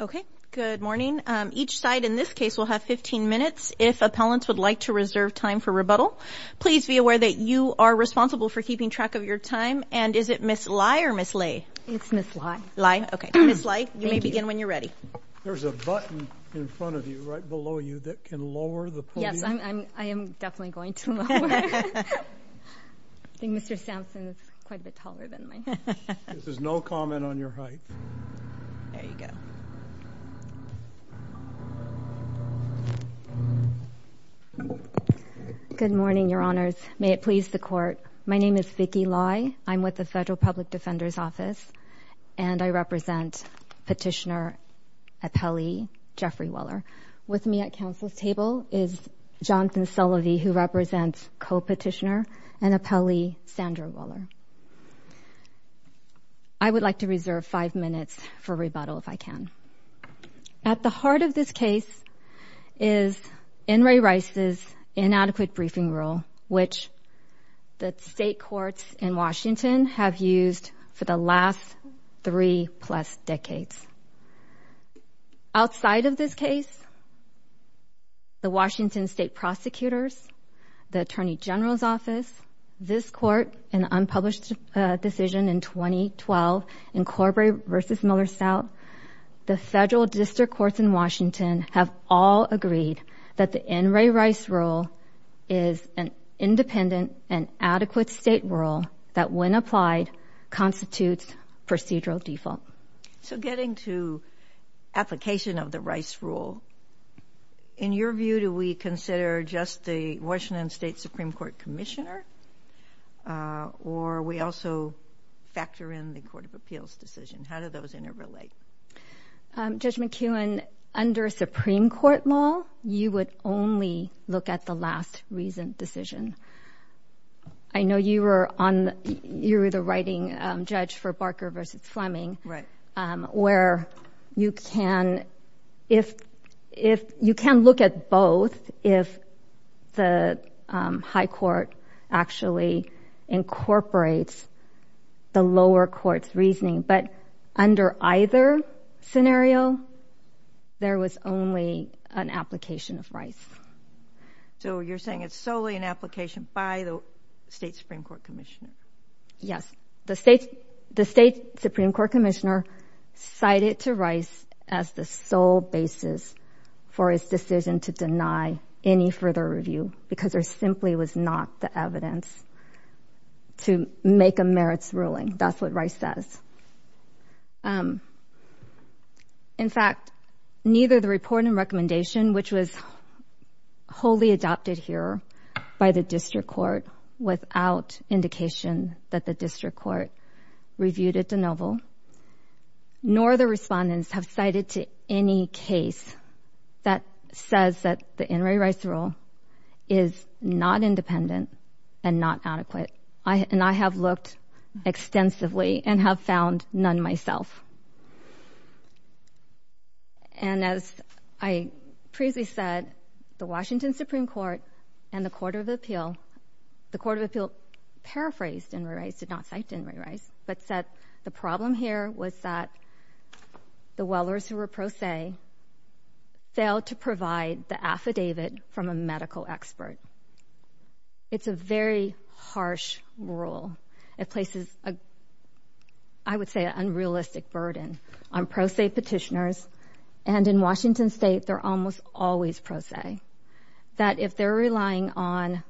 Okay, good morning. Each side in this case will have 15 minutes. If appellants would like to reserve time for rebuttal, please be aware that you are responsible for keeping track of your time. And is it Ms. Lai or Ms. Lay? It's Ms. Lai. Lai, okay. Ms. Lai, you may begin when you're ready. There's a button in front of you, right below you, that can lower the podium. Yes, I am definitely going to lower it. I think Mr. Samson is quite a bit taller than me. There's no comment on your height. There you go. Good morning, Your Honors. May it please the Court, my name is Vicky Lai. I'm with the Federal Public Defender's Office, and I represent Petitioner Appellee Jeffrey Weller. With me at counsel's table is Jonathan Sullivy, who represents Co-Petitioner and Appellee Sandra Weller. I would like to reserve five minutes for rebuttal, if I can. At the heart of this case is N. Ray Rice's inadequate briefing rule, which the state courts in Washington have used for the last three-plus decades. Outside of this case, the Washington state prosecutors, the Attorney General's Office, this Court, and the unpublished decision in 2012 in Corbray v. Miller South, the federal district courts in Washington have all agreed that the N. Ray Rice rule is an independent and adequate state rule that, when applied, constitutes procedural default. So getting to application of the Rice rule, in your view, do we consider just the Washington State Supreme Court Commissioner, or we also factor in the Court of Appeals decision? How do those interrelate? Judge McKeown, under Supreme Court law, you would only look at the last recent decision. I know you were the writing judge for Barker v. Fleming, where you can look at both if the high court actually incorporates the lower court's reasoning. But under either scenario, there was only an application of Rice. So you're saying it's solely an application by the state Supreme Court Commissioner? Yes. The state Supreme Court Commissioner cited to Rice as the sole basis for his decision to deny any further review because there simply was not the evidence to make a merits ruling. That's what Rice says. In fact, neither the report and recommendation, which was wholly adopted here by the district court without indication that the district court reviewed it de novo, nor the respondents have cited to any case that says that the N. Ray Rice rule is not independent and not adequate. And I have looked extensively and have found none myself. And as I previously said, the Washington Supreme Court and the Court of Appeal, the Court of Appeal paraphrased N. Ray Rice, did not cite N. Ray Rice, but said the problem here was that the Wellers who were pro se failed to provide the affidavit from a medical expert. It's a very harsh rule. It places, I would say, an unrealistic burden on pro se petitioners. And in Washington state, they're almost always pro se. That if they're relying on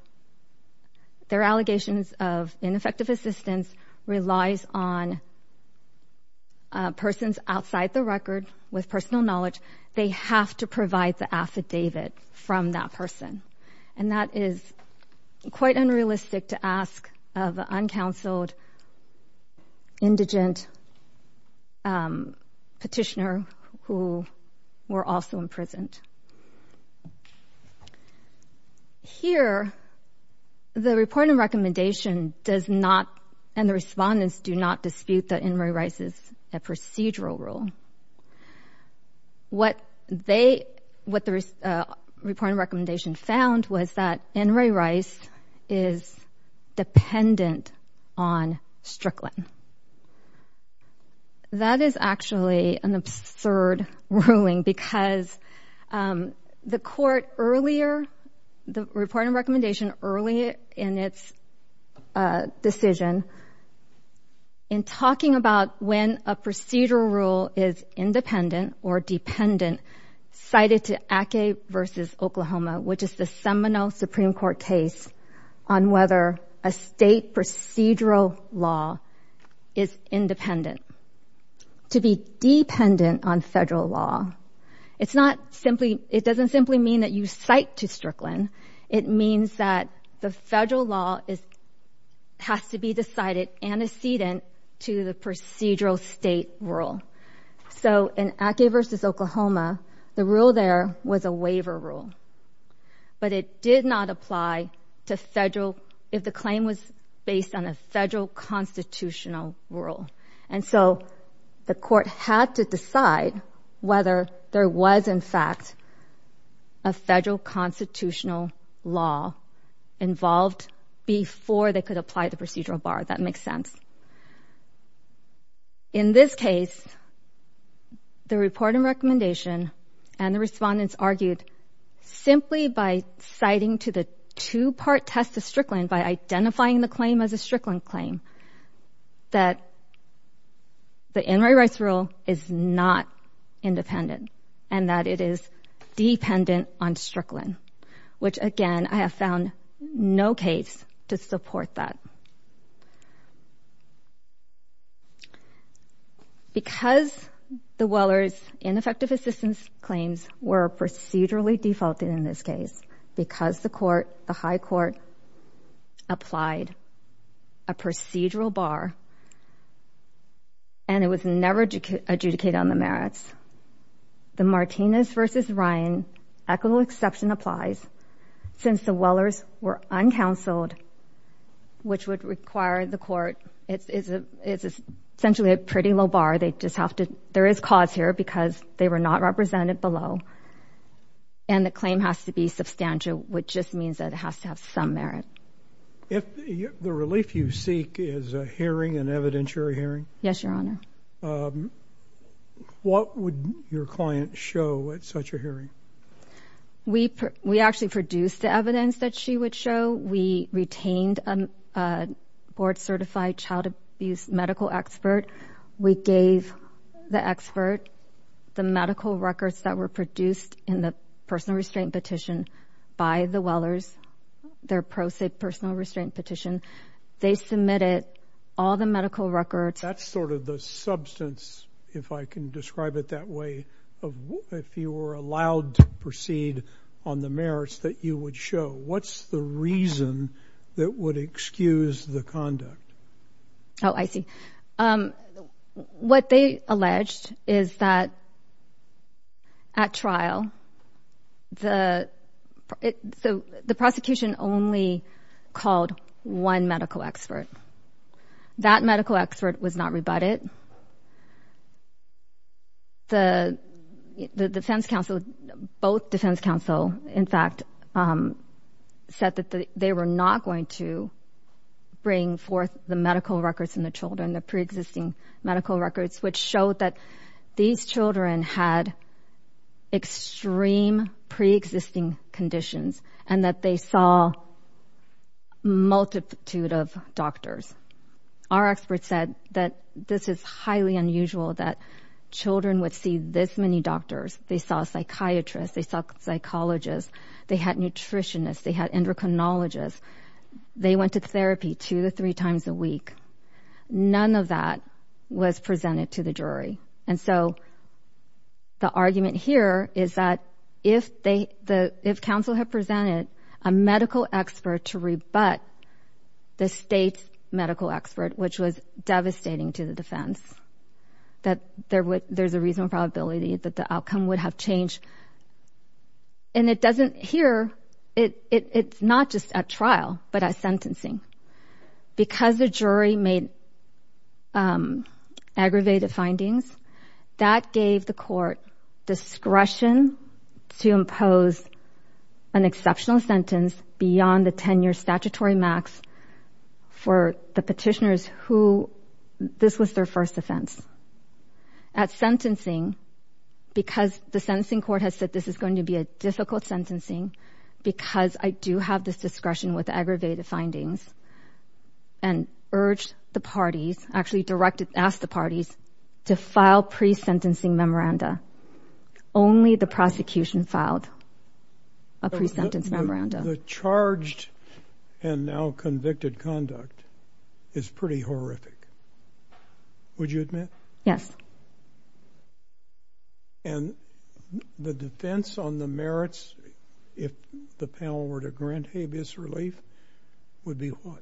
their allegations of ineffective assistance relies on persons outside the record with personal knowledge, they have to provide the affidavit from that person. And that is quite unrealistic to ask of uncounseled indigent petitioner who were also imprisoned. Here, the report and recommendation does not and the respondents do not dispute that N. Ray Rice is a procedural rule. What they, what the report and recommendation found was that N. Ray Rice is dependent on Strickland. That is actually an absurd ruling because the court earlier, the report and recommendation earlier in its decision, in talking about when a procedural rule is independent or dependent, cited to Ake v. Oklahoma, which is the seminal Supreme Court case on whether a state procedural law is independent. To be dependent on federal law, it's not simply, it doesn't simply mean that you cite to Strickland. It means that the federal law has to be decided antecedent to the procedural state rule. So in Ake v. Oklahoma, the rule there was a waiver rule. But it did not apply to federal, if the claim was based on a federal constitutional rule. And so the court had to decide whether there was in fact a federal constitutional law involved before they could apply the procedural bar. That makes sense. In this case, the report and recommendation and the respondents argued, simply by citing to the two-part test of Strickland by identifying the claim as a Strickland claim, that the N. Ray Rice rule is not independent and that it is dependent on Strickland, which again, I have found no case to support that. Because the Weller's ineffective assistance claims were procedurally defaulted in this case, because the court, the high court applied a procedural bar and it was never adjudicated on the merits, the Martinez v. Ryan equitable exception applies since the Weller's were uncounseled, which would require the court, it's essentially a pretty low bar. They just have to, there is cause here because they were not represented below. And the claim has to be substantial, which just means that it has to have some merit. If the relief you seek is a hearing, an evidentiary hearing. Yes, Your Honor. What would your client show at such a hearing? We actually produced the evidence that she would show. We retained a board-certified child abuse medical expert. We gave the expert the medical records that were produced in the personal restraint petition by the Weller's, their pro se personal restraint petition. They submitted all the medical records. That's sort of the substance, if I can describe it that way, of if you were allowed to proceed on the merits that you would show. What's the reason that would excuse the conduct? Oh, I see. What they alleged is that at trial, the prosecution only called one medical expert. That medical expert was not rebutted. The defense counsel, both defense counsel, in fact, said that they were not going to bring forth the medical records and the children, the pre-existing medical records, which showed that these children had extreme pre-existing conditions and that they saw a multitude of doctors. Our expert said that this is highly unusual that children would see this many doctors. They saw a psychiatrist. They saw a psychologist. They had nutritionists. They had endocrinologists. They went to therapy two to three times a week. None of that was presented to the jury. And so the argument here is that if counsel had presented a medical expert to rebut the state's medical expert, which was devastating to the defense, that there's a reasonable probability that the outcome would have changed. And it doesn't here. It's not just at trial but at sentencing. Because the jury made aggravated findings, that gave the court discretion to impose an exceptional sentence beyond the 10-year statutory max for the petitioners who this was their first offense. At sentencing, because the sentencing court has said this is going to be a difficult sentencing because I do have this discretion with aggravated findings and urged the parties, actually directed, asked the parties to file pre-sentencing memoranda. Only the prosecution filed a pre-sentence memoranda. The charged and now convicted conduct is pretty horrific. Would you admit? Yes. And the defense on the merits, if the panel were to grant habeas relief, would be what?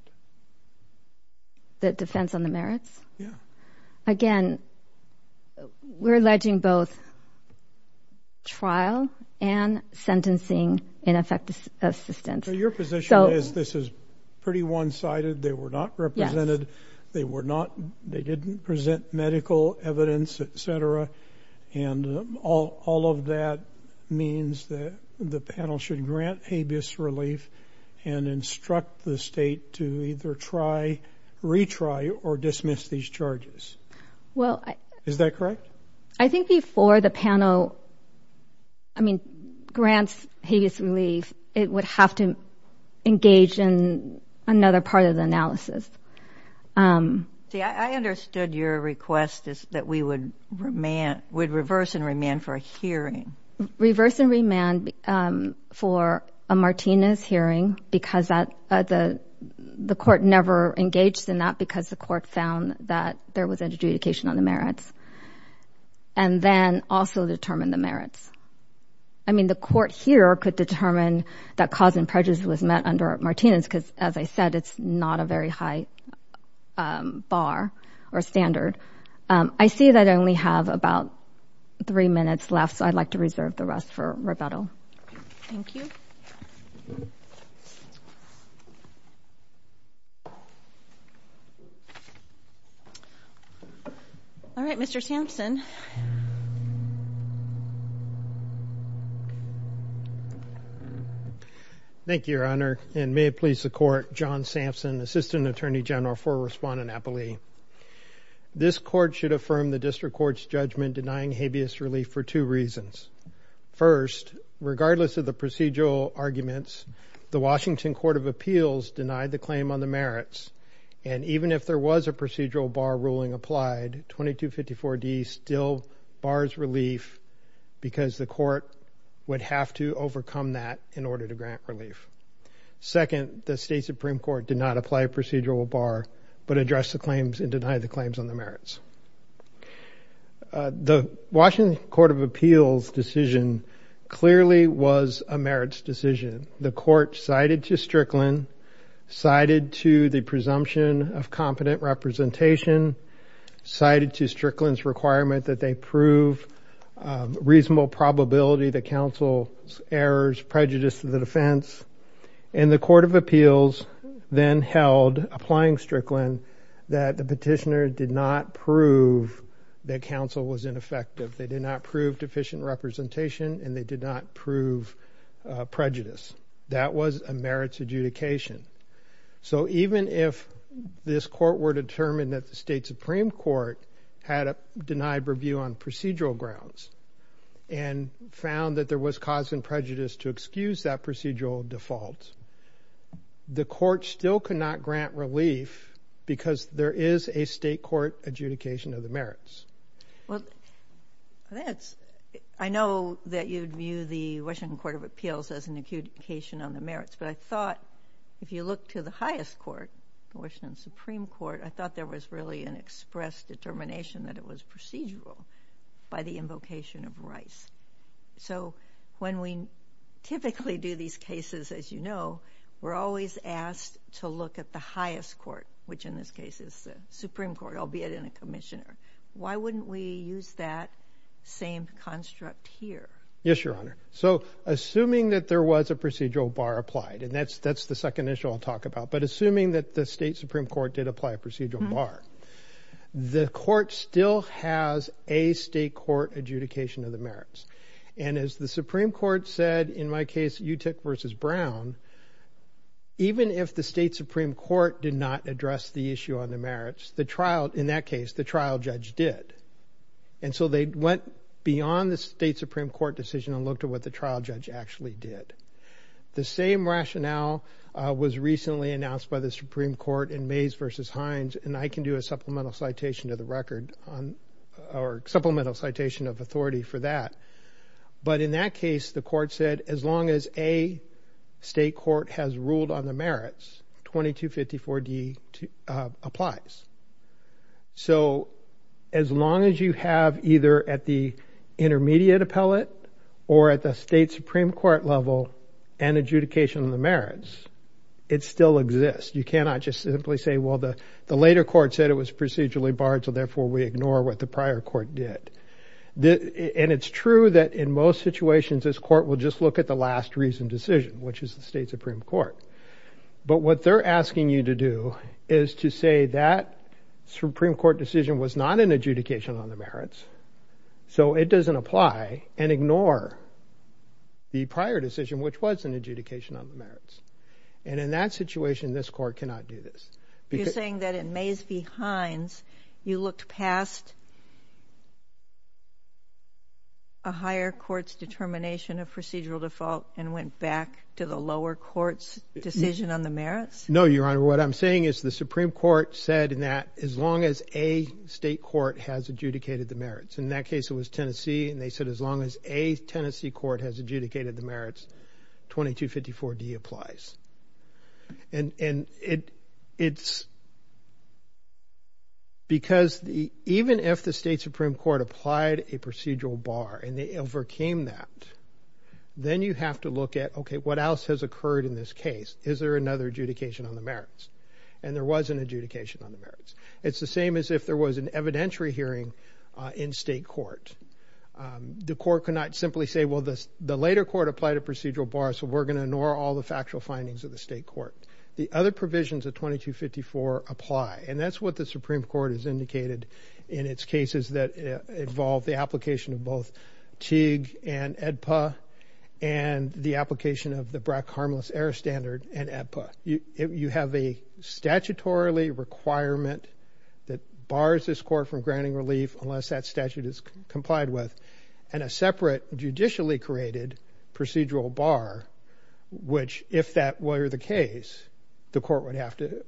The defense on the merits? Yeah. Again, we're alleging both trial and sentencing in effect assistance. So your position is this is pretty one-sided. They were not represented. They didn't present medical evidence, et cetera, and all of that means that the panel should grant habeas relief and instruct the state to either retry or dismiss these charges. Is that correct? I think before the panel grants habeas relief, it would have to engage in another part of the analysis. See, I understood your request that we would reverse and remand for a hearing. Reverse and remand for a Martinez hearing because the court never engaged in that because the court found that there was an adjudication on the merits and then also determined the merits. I mean, the court here could determine that cause and prejudice was met under Martinez because, as I said, it's not a very high bar or standard. I see that I only have about three minutes left, so I'd like to reserve the rest for rebuttal. Thank you. All right, Mr. Sampson. Thank you, Your Honor, and may it please the court, John Sampson, Assistant Attorney General for Respondent Appellee. This court should affirm the district court's judgment denying habeas relief for two reasons. First, regardless of the procedural arguments, the Washington Court of Appeals denied the claim on the merits, and even if there was a procedural bar ruling applied, 2254D still bars relief because the court would have to overcome that in order to grant relief. Second, the State Supreme Court did not apply a procedural bar but addressed the claims and denied the claims on the merits. The Washington Court of Appeals decision clearly was a merits decision. The court cited to Strickland, cited to the presumption of competent representation, cited to Strickland's requirement that they prove reasonable probability that counsel's errors prejudice to the defense, and the Court of Appeals then held, applying Strickland, that the petitioner did not prove that counsel was ineffective. They did not prove deficient representation, and they did not prove prejudice. That was a merits adjudication. So even if this court were determined that the State Supreme Court had denied review on procedural grounds and found that there was cause and prejudice to excuse that procedural default, the court still could not grant relief because there is a state court adjudication of the merits. Well, I know that you'd view the Washington Court of Appeals as an adjudication on the merits, but I thought if you look to the highest court, Washington Supreme Court, I thought there was really an express determination that it was procedural by the invocation of Rice. So when we typically do these cases, as you know, we're always asked to look at the highest court, which in this case is the Supreme Court, albeit in a commissioner. Why wouldn't we use that same construct here? Yes, Your Honor. So assuming that there was a procedural bar applied, and that's the second issue I'll talk about, but assuming that the State Supreme Court did apply a procedural bar, the court still has a state court adjudication of the merits. And as the Supreme Court said in my case, Utick versus Brown, even if the State Supreme Court did not address the issue on the merits, in that case, the trial judge did. And so they went beyond the State Supreme Court decision and looked at what the trial judge actually did. The same rationale was recently announced by the Supreme Court in Mays versus Hines, and I can do a supplemental citation of authority for that. But in that case, the court said as long as a state court has ruled on the merits, 2254D applies. So as long as you have either at the intermediate appellate or at the State Supreme Court level an adjudication of the merits, it still exists. You cannot just simply say, well, the later court said it was procedurally barred, so therefore we ignore what the prior court did. And it's true that in most situations this court will just look at the last reasoned decision, which is the State Supreme Court. But what they're asking you to do is to say that Supreme Court decision was not an adjudication on the merits, so it doesn't apply, and ignore the prior decision, which was an adjudication on the merits. And in that situation, this court cannot do this. You're saying that in Mays v. Hines, you looked past a higher court's determination of procedural default and went back to the lower court's decision on the merits? No, Your Honor. What I'm saying is the Supreme Court said that as long as a state court has adjudicated the merits. In that case, it was Tennessee, and they said as long as a Tennessee court has adjudicated the merits, 2254D applies. And it's because even if the State Supreme Court applied a procedural bar and they overcame that, then you have to look at, okay, what else has occurred in this case? Is there another adjudication on the merits? And there was an adjudication on the merits. It's the same as if there was an evidentiary hearing in state court. The court cannot simply say, well, the later court applied a procedural bar, so we're going to ignore all the factual findings of the state court. The other provisions of 2254 apply, and that's what the Supreme Court has indicated in its cases that involve the application of both Teague and AEDPA and the application of the BRAC Harmless Error Standard and AEDPA. You have a statutorily requirement that bars this court from granting relief unless that statute is complied with and a separate judicially created procedural bar which, if that were the case, the court would have to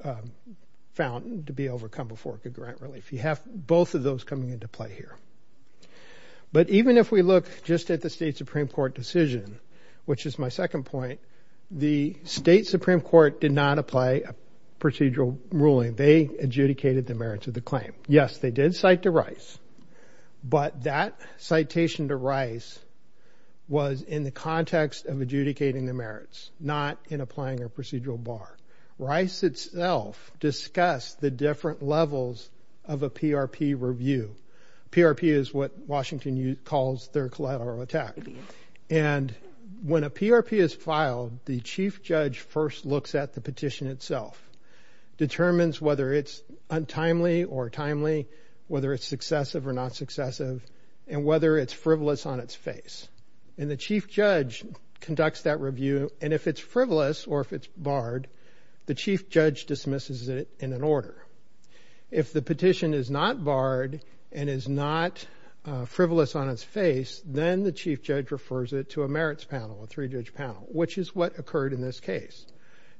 found to be overcome before it could grant relief. You have both of those coming into play here. But even if we look just at the state Supreme Court decision, which is my second point, the state Supreme Court did not apply a procedural ruling. They adjudicated the merits of the claim. Yes, they did cite to Rice, but that citation to Rice was in the context of adjudicating the merits, not in applying a procedural bar. Rice itself discussed the different levels of a PRP review. PRP is what Washington calls their collateral attack. And when a PRP is filed, the chief judge first looks at the petition itself, determines whether it's untimely or timely, whether it's successive or not successive, and whether it's frivolous on its face. And the chief judge conducts that review. And if it's frivolous or if it's barred, the chief judge dismisses it in an order. If the petition is not barred and is not frivolous on its face, then the chief judge refers it to a merits panel, a three-judge panel, which is what occurred in this case.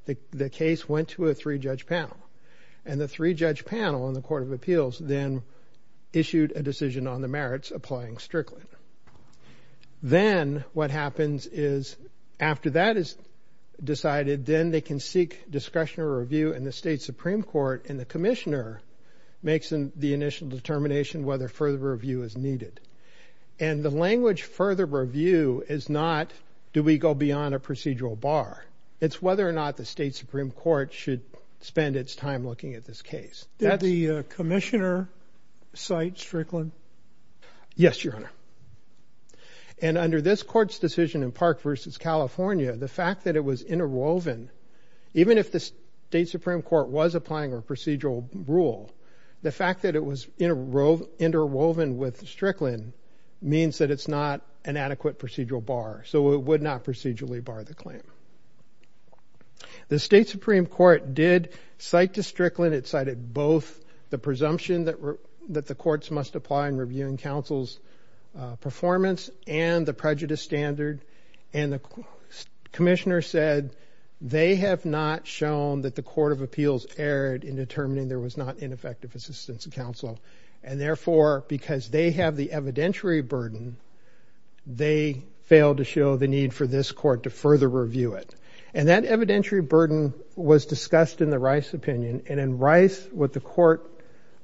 The case went to a three-judge panel. And the three-judge panel in the Court of Appeals then issued a decision on the merits applying Strickland. Then what happens is after that is decided, then they can seek discussion or review in the state Supreme Court, and the commissioner makes the initial determination whether further review is needed. And the language further review is not do we go beyond a procedural bar. It's whether or not the state Supreme Court should spend its time looking at this case. Did the commissioner cite Strickland? Yes, Your Honor. And under this court's decision in Park v. California, the fact that it was interwoven, even if the state Supreme Court was applying a procedural rule, the fact that it was interwoven with Strickland means that it's not an adequate procedural bar, so it would not procedurally bar the claim. The state Supreme Court did cite to Strickland. It cited both the presumption that the courts must apply in reviewing counsel's performance and the prejudice standard. And the commissioner said they have not shown that the Court of Appeals erred in determining there was not ineffective assistance of counsel. And therefore, because they have the evidentiary burden, they failed to show the need for this court to further review it. And that evidentiary burden was discussed in the Rice opinion. And in Rice, what the court,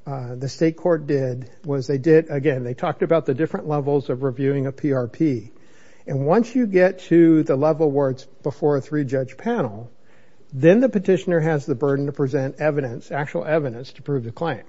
the state court did was they did, again, they talked about the different levels of reviewing a PRP. And once you get to the level where it's before a three-judge panel, then the petitioner has the burden to present evidence, actual evidence, to prove the claim.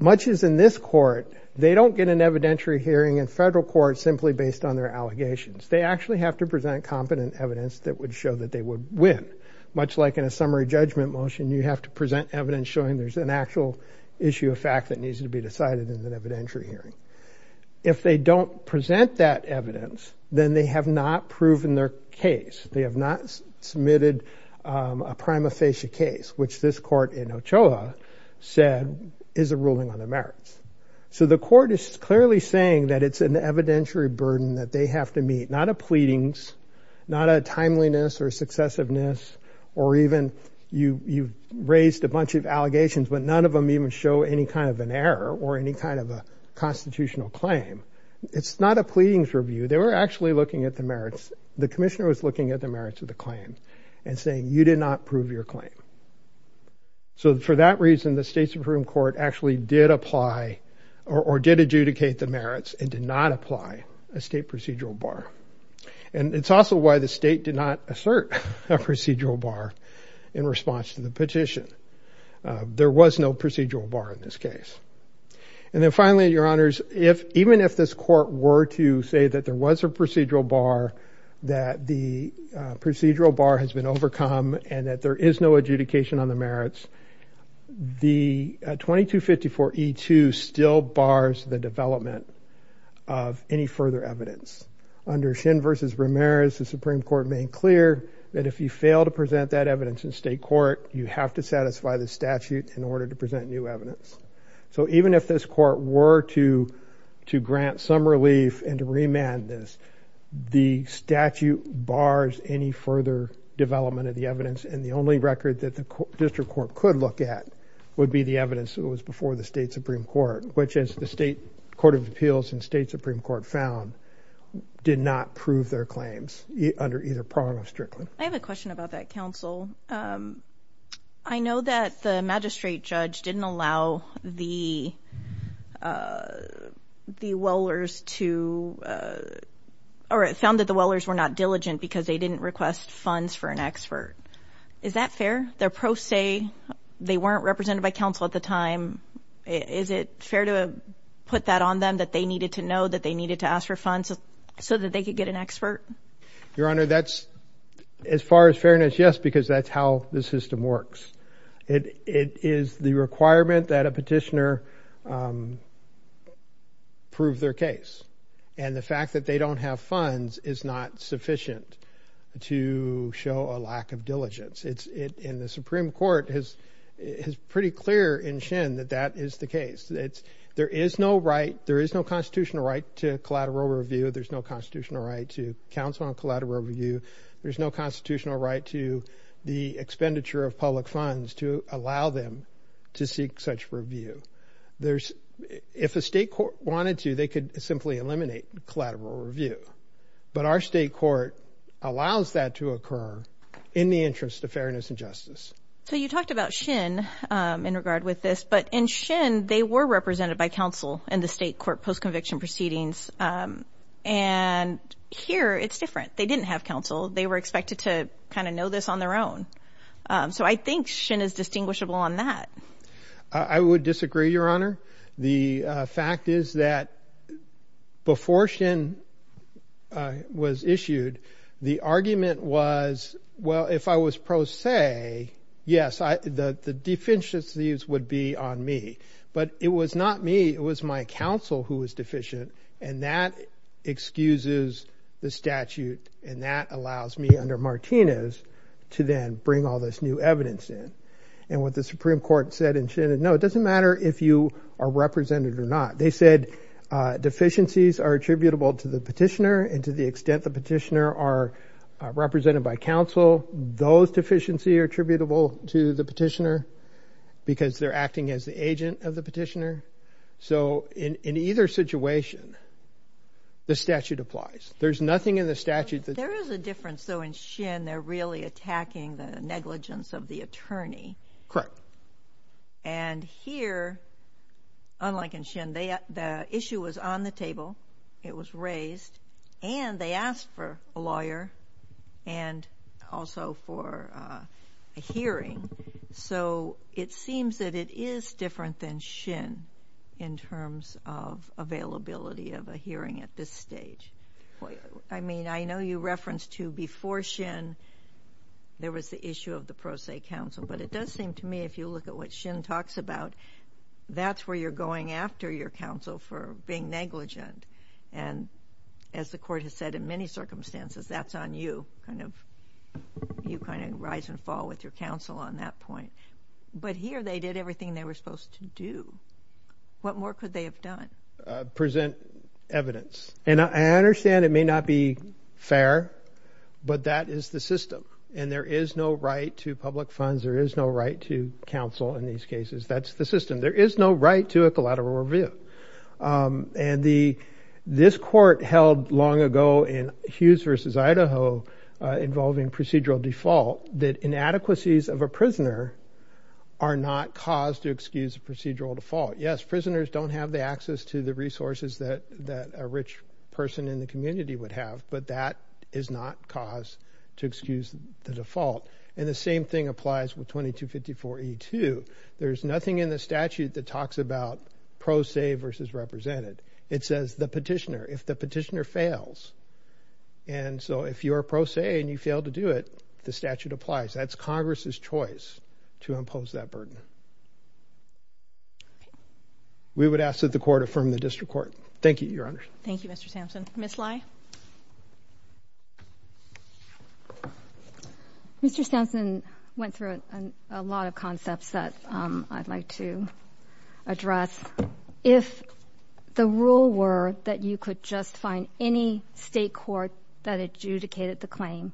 Much as in this court, they don't get an evidentiary hearing in federal court simply based on their allegations. They actually have to present competent evidence that would show that they would win. Much like in a summary judgment motion, you have to present evidence showing there's an actual issue of fact that needs to be decided in an evidentiary hearing. If they don't present that evidence, then they have not proven their case. They have not submitted a prima facie case, which this court in Ochoa said is a ruling on the merits. So the court is clearly saying that it's an evidentiary burden that they have to meet, not a pleadings, not a timeliness or successiveness, or even you raised a bunch of allegations, but none of them even show any kind of an error or any kind of a constitutional claim. It's not a pleadings review. They were actually looking at the merits. The commissioner was looking at the merits of the claim and saying, you did not prove your claim. So for that reason, the state Supreme Court actually did apply or did adjudicate the merits and did not apply a state procedural bar. And it's also why the state did not assert a procedural bar in response to the petition. There was no procedural bar in this case. And then finally, Your Honors, even if this court were to say that there was a procedural bar, that the procedural bar has been overcome and that there is no adjudication on the merits, the 2254E2 still bars the development of any further evidence. Under Shin v. Ramirez, the Supreme Court made clear that if you fail to present that evidence in state court, you have to satisfy the statute in order to present new evidence. So even if this court were to grant some relief and to remand this, the statute bars any further development of the evidence. And the only record that the district court could look at would be the evidence that was before the state Supreme Court, which is the state court of appeals and state Supreme Court found did not prove their claims under either prong of Strickland. I have a question about that, counsel. I know that the magistrate judge didn't allow the wellers to or found that the wellers were not diligent because they didn't request funds for an expert. Is that fair? Their pro se, they weren't represented by counsel at the time. Is it fair to put that on them that they needed to know that they needed to ask for funds so that they could get an expert? Your Honor, that's, as far as fairness, yes, because that's how the system works. It is the requirement that a petitioner prove their case. And the fact that they don't have funds is not sufficient to show a lack of diligence. And the Supreme Court is pretty clear in Shen that that is the case. There is no constitutional right to collateral review. There's no constitutional right to counsel on collateral review. There's no constitutional right to the expenditure of public funds to allow them to seek such review. If a state court wanted to, they could simply eliminate collateral review. But our state court allows that to occur in the interest of fairness and justice. So you talked about Shen in regard with this. But in Shen, they were represented by counsel in the state court post-conviction proceedings. And here it's different. They didn't have counsel. They were expected to kind of know this on their own. So I think Shen is distinguishable on that. I would disagree, Your Honor. The fact is that before Shen was issued, the argument was, well, if I was pro se, yes, the deficiencies would be on me. But it was not me. It was my counsel who was deficient. And that excuses the statute. And that allows me under Martinez to then bring all this new evidence in. And what the Supreme Court said in Shen is, no, it doesn't matter if you are represented or not. They said deficiencies are attributable to the petitioner and to the extent the petitioner are represented by counsel. Those deficiencies are attributable to the petitioner because they're acting as the agent of the petitioner. So in either situation, the statute applies. There's nothing in the statute. There is a difference, though, in Shen. They're really attacking the negligence of the attorney. Correct. And here, unlike in Shen, the issue was on the table. It was raised. And they asked for a lawyer and also for a hearing. So it seems that it is different than Shen in terms of availability of a hearing at this stage. I mean, I know you referenced, too, before Shen, there was the issue of the pro se counsel. But it does seem to me, if you look at what Shen talks about, that's where you're going after your counsel for being negligent. And as the court has said in many circumstances, that's on you. You kind of rise and fall with your counsel on that point. But here they did everything they were supposed to do. What more could they have done? Present evidence. And I understand it may not be fair, but that is the system. And there is no right to public funds. There is no right to counsel in these cases. That's the system. There is no right to a collateral review. And this court held long ago in Hughes v. Idaho involving procedural default, that inadequacies of a prisoner are not cause to excuse a procedural default. Yes, prisoners don't have the access to the resources that a rich person in the community would have. But that is not cause to excuse the default. And the same thing applies with 2254E2. There's nothing in the statute that talks about pro se versus represented. It says the petitioner. If the petitioner fails, and so if you're pro se and you fail to do it, the statute applies. That's Congress's choice to impose that burden. We would ask that the court affirm the district court. Thank you, Your Honor. Thank you, Mr. Sampson. Ms. Lai. Mr. Sampson went through a lot of concepts that I'd like to address. If the rule were that you could just find any state court that adjudicated the claim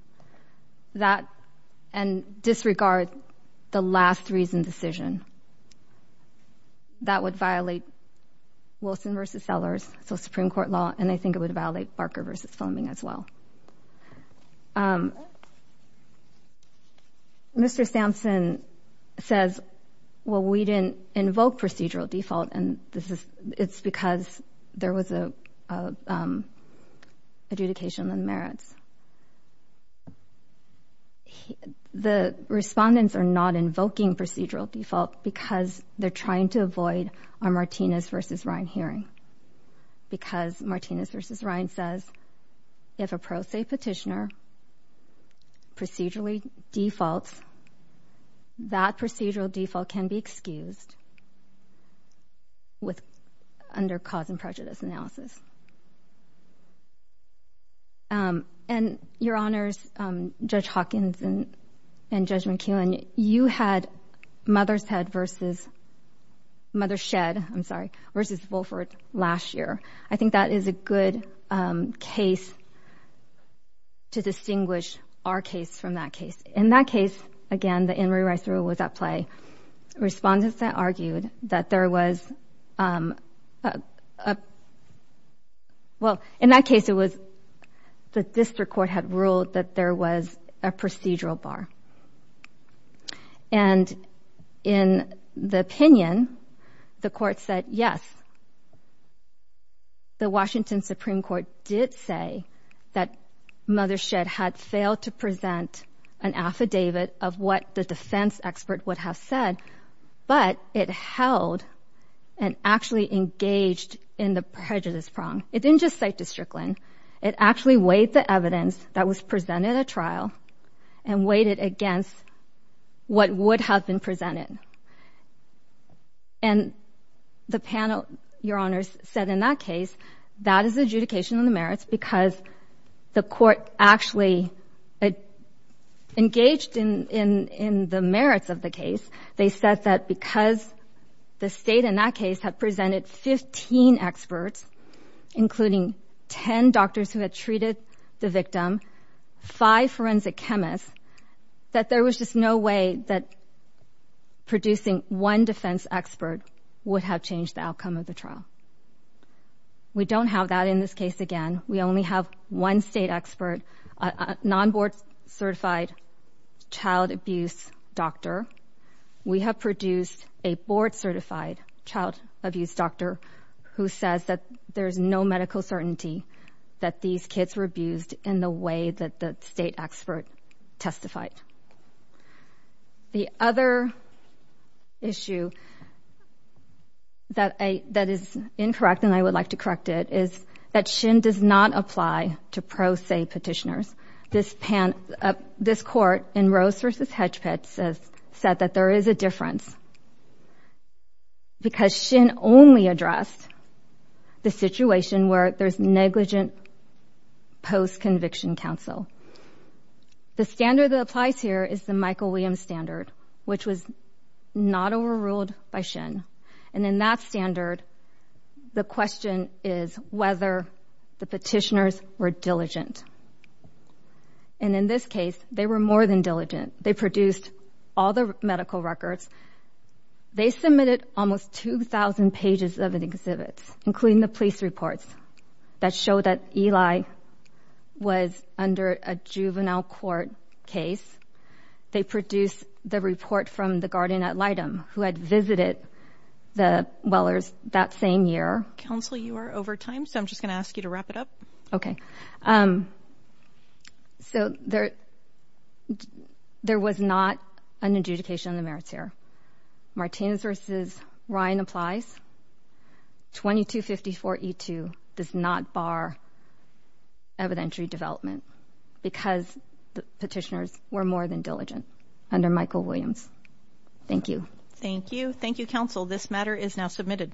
and disregard the last reason decision, that would violate Wilson v. Sellers, so Supreme Court law, and I think it would violate Barker v. Fleming as well. Mr. Sampson says, well, we didn't invoke procedural default, and it's because there was an adjudication on the merits. The respondents are not invoking procedural default because they're trying to avoid our Martinez v. Ryan hearing because Martinez v. Ryan says if a pro se petitioner procedurally defaults, that procedural default can be excused under cause and prejudice analysis. And, Your Honors, Judge Hawkins and Judge McKeown, you had Mothershed v. Wolford last year. I think that is a good case to distinguish our case from that case. In that case, again, the Inouye Rice Rule was at play. Respondents argued that there was, well, in that case, it was the district court had ruled that there was a procedural bar. And in the opinion, the court said yes. The Washington Supreme Court did say that Mothershed had failed to present an affidavit of what the defense expert would have said, but it held and actually engaged in the prejudice prong. It didn't just cite Districtland. It actually weighed the evidence that was presented at trial and weighed it against what would have been presented. And the panel, Your Honors, said in that case that is adjudication on the merits because the court actually engaged in the merits of the case. They said that because the state in that case had presented 15 experts, including 10 doctors who had treated the victim, 5 forensic chemists, that there was just no way that producing one defense expert would have changed the outcome of the trial. We don't have that in this case again. We only have one state expert, a non-board-certified child abuse doctor. We have produced a board-certified child abuse doctor who says that there's no medical certainty that these kids were abused in the way that the state expert testified. The other issue that is incorrect, and I would like to correct it, is that Shin does not apply to pro se petitioners. This court in Rose v. Hedgepitt said that there is a difference because Shin only addressed the situation where there's negligent post-conviction counsel. The standard that applies here is the Michael Williams standard, which was not overruled by Shin. And in that standard, the question is whether the petitioners were diligent. And in this case, they were more than diligent. They produced all the medical records. They submitted almost 2,000 pages of exhibits, including the police reports, that show that Eli was under a juvenile court case. They produced the report from the guardian at Leidem who had visited the Wellers that same year. Counsel, you are over time, so I'm just going to ask you to wrap it up. Okay. So there was not an adjudication of the merits here. Martinez v. Ryan applies. 2254E2 does not bar evidentiary development because the petitioners were more than diligent under Michael Williams. Thank you. Thank you. Thank you, counsel. This matter is now submitted.